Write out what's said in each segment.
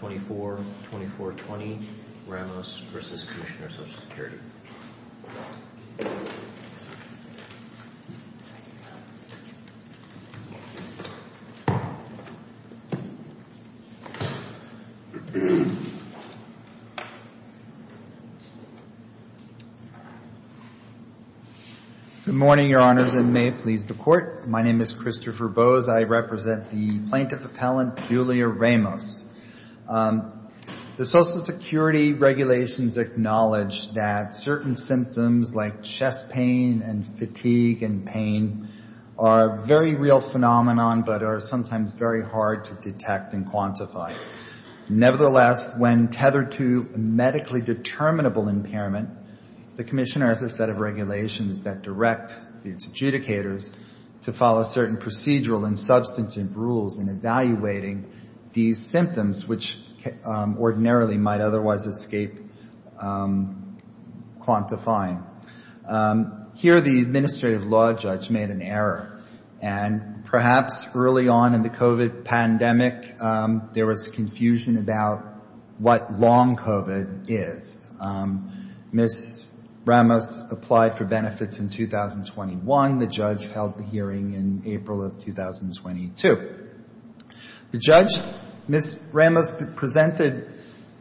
Good morning, Your Honors, and may it please the Court. My name is Christopher Bose. I The Social Security regulations acknowledge that certain symptoms like chest pain and fatigue and pain are a very real phenomenon, but are sometimes very hard to detect and quantify. Nevertheless, when tethered to medically determinable impairment, the Commissioner has a set of regulations that direct its adjudicators to follow certain procedural and substantive rules in evaluating these symptoms, which may or may not be a symptom of a disease. Here, the Administrative Law Judge made an error, and perhaps early on in the COVID pandemic, there was confusion about what long COVID is. Ms. Ramos applied for benefits in 2021. The judge held the hearing in April of 2022. The judge, Ms. Ramos, presented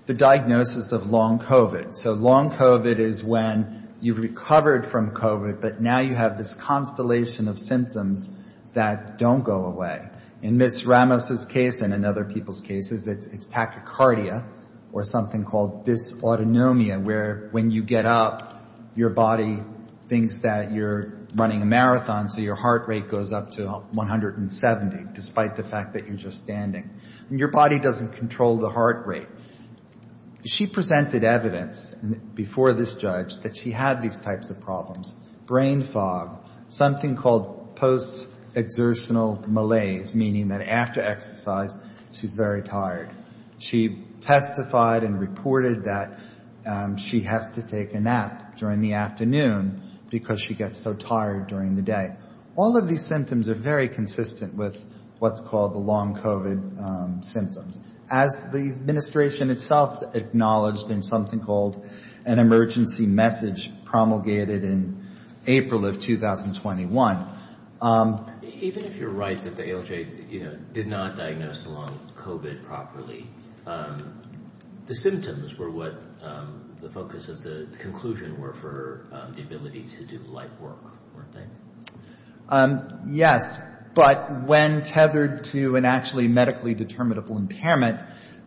the diagnosis of long COVID. So long COVID is when you've recovered from COVID, but now you have this constellation of symptoms that don't go away. In Ms. Ramos's case, and in other people's cases, it's tachycardia, or something called dysautonomia, where when you get up, your body thinks that you're running a marathon, so your heart rate goes up to 170. Despite the fact that you're just standing. Your body doesn't control the heart rate. She presented evidence before this judge that she had these types of problems. Brain fog, something called post-exertional malaise, meaning that after exercise, she's very tired. She testified and reported that she has to take a nap during the afternoon because she gets so tired during the day. All of these symptoms are very consistent with what's called the long COVID symptoms. As the administration itself acknowledged in something called an emergency message promulgated in April of 2021. Even if you're right that the ALJ did not diagnose the long COVID properly, the symptoms were what the focus of the conclusion were for the ability to do light work, weren't they? Yes, but when tethered to an actually medically determinable impairment,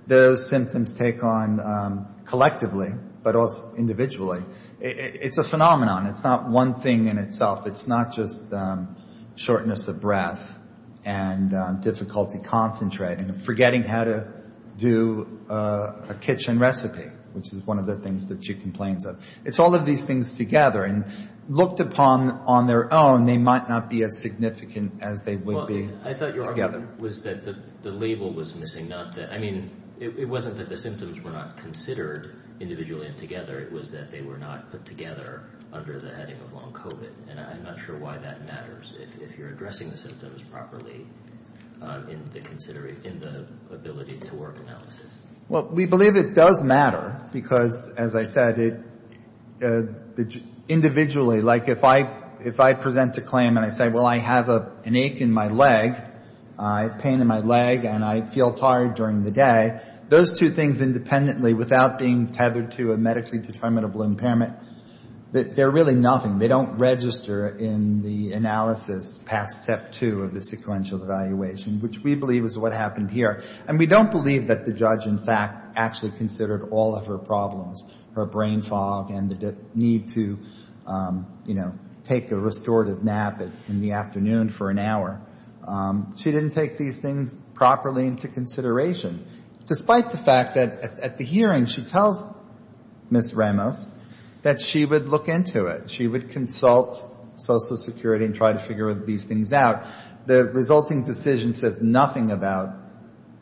those symptoms take on collectively, but also individually. It's a phenomenon. It's not one thing in itself. It's not just shortness of breath and difficulty concentrating and forgetting how to do a kitchen recipe, which is one of the things that she complains of. It's all of these things together, and looked upon on their own, they might not be as significant as they would be together. I thought your argument was that the label was missing. I mean, it wasn't that the symptoms were not considered individually and together. It was that they were not put together under the heading of long COVID. I'm not sure why that matters if you're addressing the symptoms properly in the ability to work analysis. Well, we believe it does matter because, as I said, individually, like if I present a claim and I say, well, I have an ache in my leg, I have pain in my leg, and I feel tired during the day, those two things independently without being tethered to a medically determinable impairment, they're really nothing. They don't register in the analysis past step two of the sequential evaluation, which we believe is what happened here. And we don't believe that the judge, in fact, actually considered all of her problems, her brain fog and the need to, you know, take a restorative nap in the afternoon for an hour. She didn't take these things properly into consideration, despite the fact that at the hearing, she tells Ms. Ramos that she would look into it. She would consult Social Security and try to figure these things out. The resulting decision says nothing about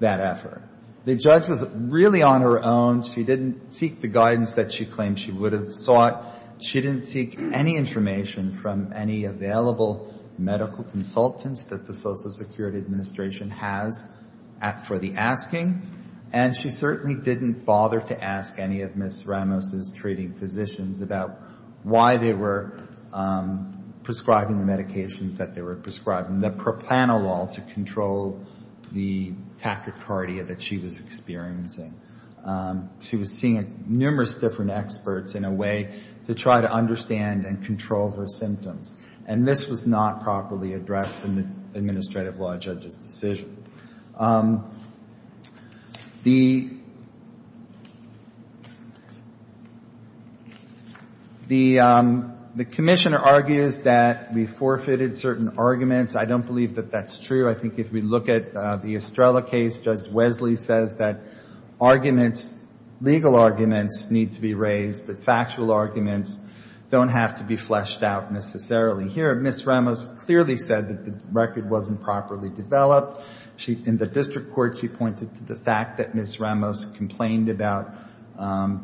that effort. The judge was really on her own. She didn't seek the guidance that she claimed she would have sought. She didn't seek any information from any available medical consultants that the Social Security Administration has for the asking. And she certainly didn't bother to ask any of Ms. Ramos' treating physicians about why they were prescribing the medications that they were prescribing. The propranolol to control the tachycardia that she was experiencing. She was seeing numerous different experts in a way to try to understand and control her symptoms. And this was not properly addressed in the administrative law judge's decision. The commissioner argues that we forfeited certain arguments. I don't believe that that's true. I think if we look at the Estrella case, Judge Wesley says that arguments, legal arguments need to be raised, but factual arguments don't have to be fleshed out necessarily. Ms. Ramos clearly said that the record wasn't properly developed. In the district court, she pointed to the fact that Ms. Ramos complained about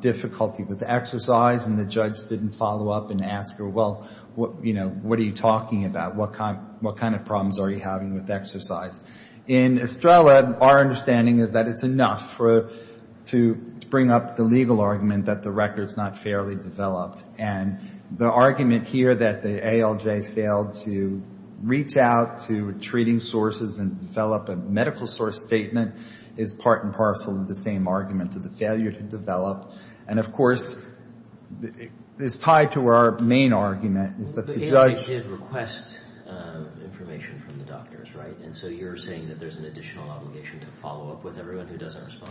difficulty with exercise and the judge didn't follow up and ask her, well, what are you talking about? What kind of problems are you having with exercise? In Estrella, our understanding is that it's enough to bring up the legal argument that the record's not fairly developed. And the argument here that the ALJ failed to reach out to treating sources and develop a medical source statement is part and parcel of the same argument of the failure to develop. And, of course, it's tied to our main argument is that the judge did request information from the doctors, right? And so you're saying that there's an additional obligation to follow up with everyone who doesn't respond?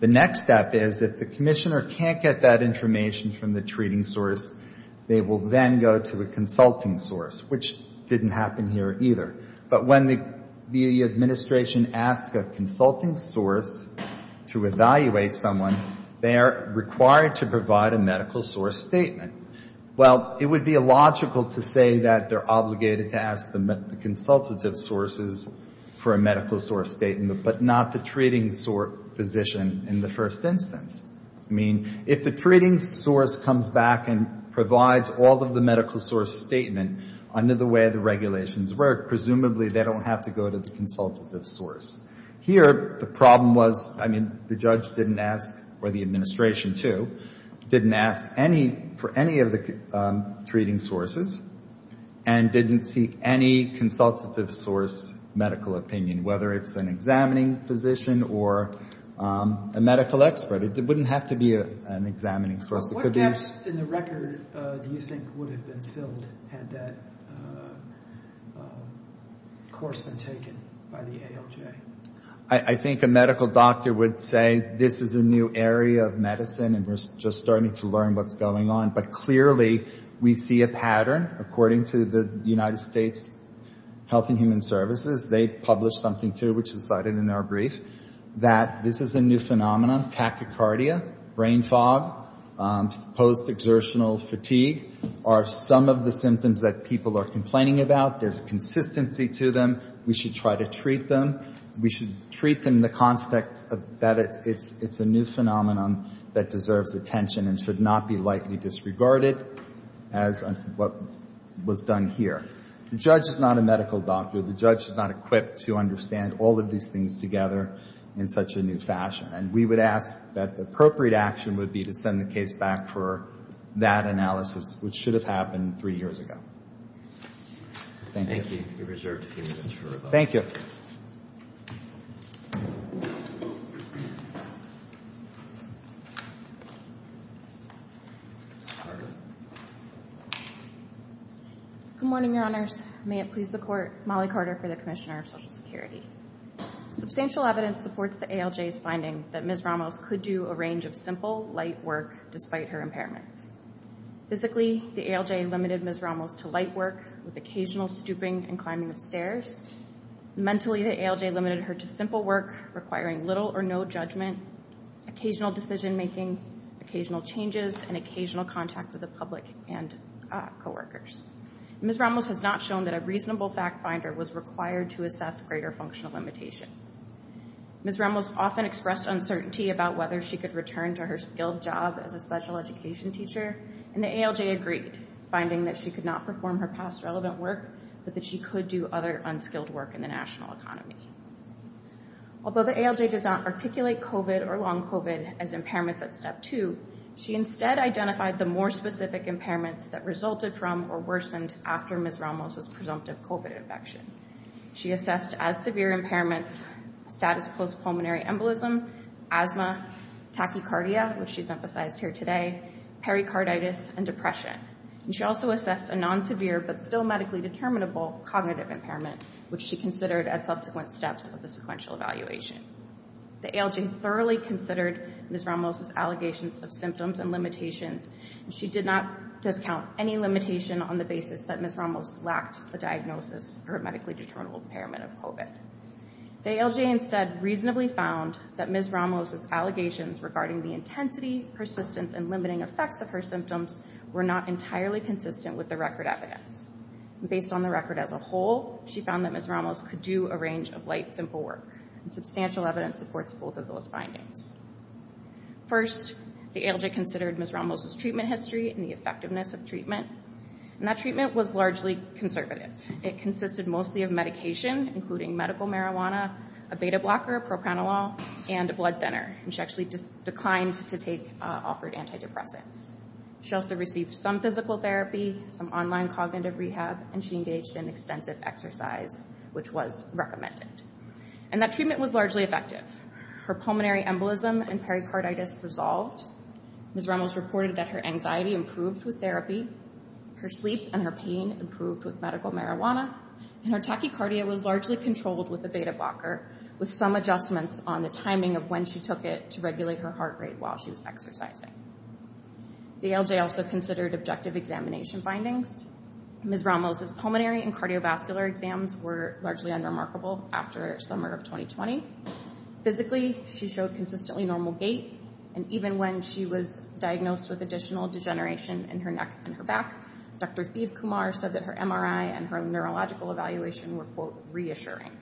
The next step is if the commissioner can't get that information from the treating source, they will then go to a consulting source, which didn't happen here either. But when the administration asks a consulting source to evaluate someone, they are required to provide a medical source statement. Well, it would be illogical to say that they're obligated to ask the consultative sources for a medical source statement, but not the treating physician in the first instance. I mean, if the treating source comes back and provides all of the medical source statement under the way the regulations work, presumably they don't have to go to the consultative source. Here, the problem was, I mean, the judge didn't ask, or the administration, too, didn't ask for any of the treating sources and didn't seek any consultative source medical opinion, whether it's an examining physician or a medical expert. It wouldn't have to be an examining source. What gaps in the record do you think would have been filled had that course been taken by the ALJ? post-exertional fatigue are some of the symptoms that people are complaining about. There's consistency to them. We should try to treat them. We should treat them in the context that it's a new phenomenon that deserves attention and should not be lightly disregarded, as what was done here. The judge is not a medical doctor. The judge is not equipped to understand all of these things together in such a new fashion. And we would ask that the appropriate action would be to send the case back for that analysis, which should have happened three years ago. Thank you. Thank you. Thank you. Good morning, Your Honors. May it please the Court, Molly Carter for the Commissioner of Social Security. Substantial evidence supports the ALJ's finding that Ms. Ramos could do a range of simple, light work, despite her impairments. Physically, the ALJ limited Ms. Ramos to light work, with occasional stooping and climbing of stairs. Mentally, the ALJ limited her to simple work, requiring little or no judgment, occasional decision-making, occasional changes, and occasional contact with the public and coworkers. Ms. Ramos has not shown that a reasonable fact-finder was required to assess greater functional limitations. Ms. Ramos often expressed uncertainty about whether she could return to her skilled job as a special education teacher, and the ALJ agreed, finding that she could not perform her past relevant work, but that she could do other unskilled work in the national economy. Although the ALJ did not articulate COVID or long COVID as impairments at Step 2, she instead identified the more specific impairments that resulted from or worsened after Ms. Ramos' presumptive COVID infection. She assessed, as severe impairments, status post-pulmonary embolism, asthma, tachycardia, which she's emphasized here today, pericarditis, and depression. And she also assessed a non-severe but still medically determinable cognitive impairment, which she considered at subsequent steps of the sequential evaluation. The ALJ thoroughly considered Ms. Ramos' allegations of symptoms and limitations, and she did not discount any limitation on the basis that Ms. Ramos lacked a diagnosis for a medically determinable impairment of COVID. The ALJ instead reasonably found that Ms. Ramos' allegations regarding the intensity, persistence, and limiting effects of her symptoms were not entirely consistent with the record evidence. Based on the record as a whole, she found that Ms. Ramos could do a range of light, simple work, and substantial evidence supports both of those findings. First, the ALJ considered Ms. Ramos' treatment history and the effectiveness of treatment, and that treatment was largely conservative. It consisted mostly of medication, including medical marijuana, a beta blocker, a propranolol, and a blood thinner, and she actually declined to take offered antidepressants. She also received some physical therapy, some online cognitive rehab, and she engaged in extensive exercise, which was recommended. And that treatment was largely effective. Her pulmonary embolism and pericarditis resolved. Ms. Ramos reported that her anxiety improved with therapy, her sleep and her pain improved with medical marijuana, and her tachycardia was largely controlled with a beta blocker, with some adjustments on the timing of when she took it to regulate her heart rate while she was exercising. The ALJ also considered objective examination findings. Ms. Ramos' pulmonary and cardiovascular exams were largely unremarkable after summer of 2020. Physically, she showed consistently normal gait, and even when she was diagnosed with additional degeneration in her neck and her back, Dr. Thiv Kumar said that her MRI and her neurological evaluation were, quote, reassuring.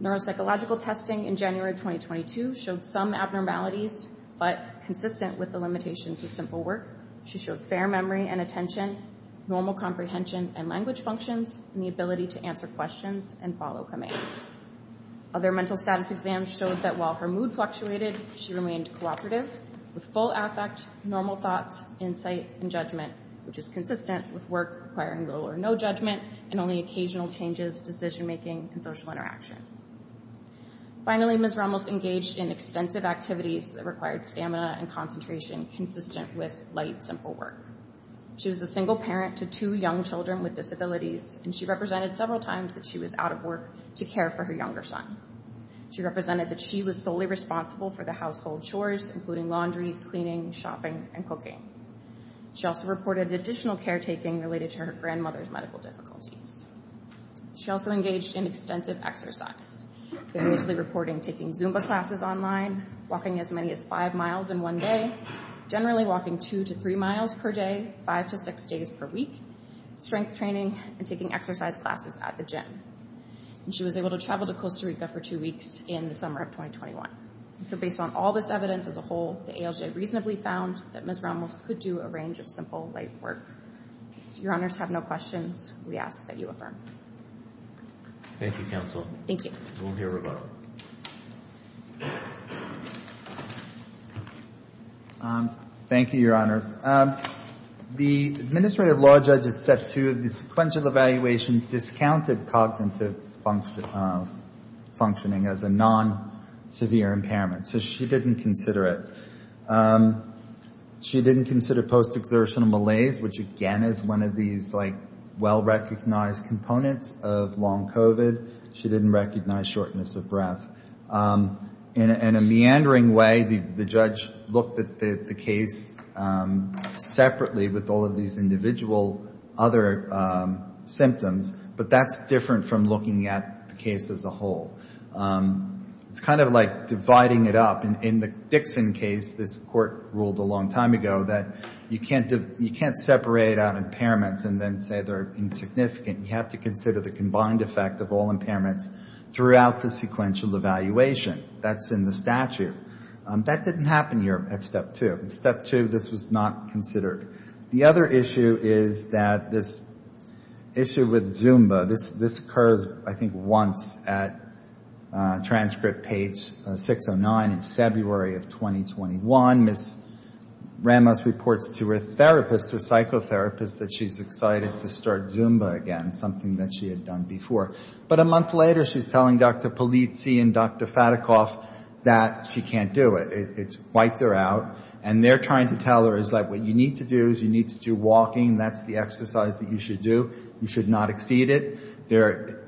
Neuropsychological testing in January of 2022 showed some abnormalities, but consistent with the limitations of simple work. She showed fair memory and attention, normal comprehension and language functions, and the ability to answer questions and follow commands. Other mental status exams showed that while her mood fluctuated, she remained cooperative with full affect, normal thoughts, insight, and judgment, which is consistent with work requiring little or no judgment and only occasional changes, decision-making, and social interaction. Finally, Ms. Ramos engaged in extensive activities that required stamina and concentration consistent with light, simple work. She was a single parent to two young children with disabilities, and she represented several times that she was out of work to care for her younger son. She represented that she was solely responsible for the household chores, including laundry, cleaning, shopping, and cooking. She also reported additional caretaking related to her grandmother's medical difficulties. She also engaged in extensive exercise, variously reporting taking Zumba classes online, walking as many as five miles in one day, generally walking two to three miles per day, five to six days per week, strength training, and taking exercise classes at the gym. She was able to travel to Costa Rica for two weeks in the summer of 2021. So based on all this evidence as a whole, the ALJ reasonably found that Ms. Ramos could do a range of simple, light work. If Your Honors have no questions, we ask that you affirm. Thank you, Counsel. Thank you. We'll hear from her. Thank you, Your Honors. The Administrative Law Judge at Step 2 of the sequential evaluation discounted cognitive functioning as a non-severe impairment, so she didn't consider it. She didn't consider post-exertional malaise, which again is one of these well-recognized components of long COVID. She didn't recognize shortness of breath. In a meandering way, the judge looked at the case separately with all of these individual other symptoms, but that's different from looking at the case as a whole. It's kind of like dividing it up. In the Dixon case, this court ruled a long time ago that you can't separate out impairments and then say they're insignificant. You have to consider the combined effect of all impairments throughout the sequential evaluation. That's in the statute. That didn't happen here at Step 2. In Step 2, this was not considered. The other issue is that this issue with Zumba. This occurs, I think, once at transcript page 609 in February of 2021. Ms. Ramos reports to her therapist, her psychotherapist, that she's excited to start Zumba again, something that she had done before. But a month later, she's telling Dr. Polizzi and Dr. Fatikoff that she can't do it. It's wiped her out. And they're trying to tell her that what you need to do is you need to do walking. That's the exercise that you should do. You should not exceed it. They're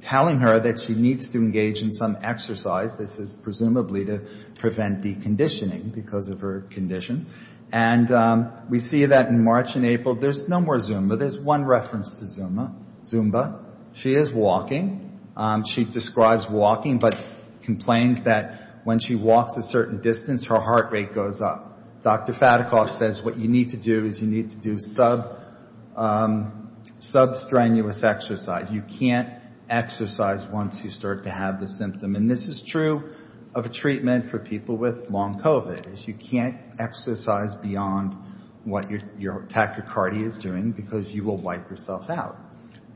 telling her that she needs to engage in some exercise. This is presumably to prevent deconditioning because of her condition. And we see that in March and April, there's no more Zumba. There's one reference to Zumba. She is walking. She describes walking but complains that when she walks a certain distance, her heart rate goes up. Dr. Fatikoff says what you need to do is you need to do sub-strenuous exercise. You can't exercise once you start to have the symptom. And this is true of a treatment for people with long COVID. You can't exercise beyond what your tachycardia is doing because you will wipe yourself out.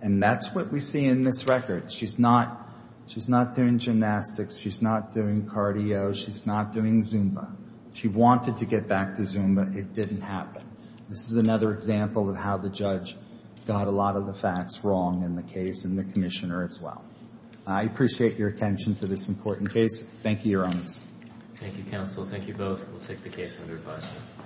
And that's what we see in this record. She's not doing gymnastics. She's not doing cardio. She's not doing Zumba. She wanted to get back to Zumba. It didn't happen. This is another example of how the judge got a lot of the facts wrong in the case and the commissioner as well. I appreciate your attention to this important case. Thank you, Your Honors. Thank you, counsel. Thank you both. We'll take the case under review.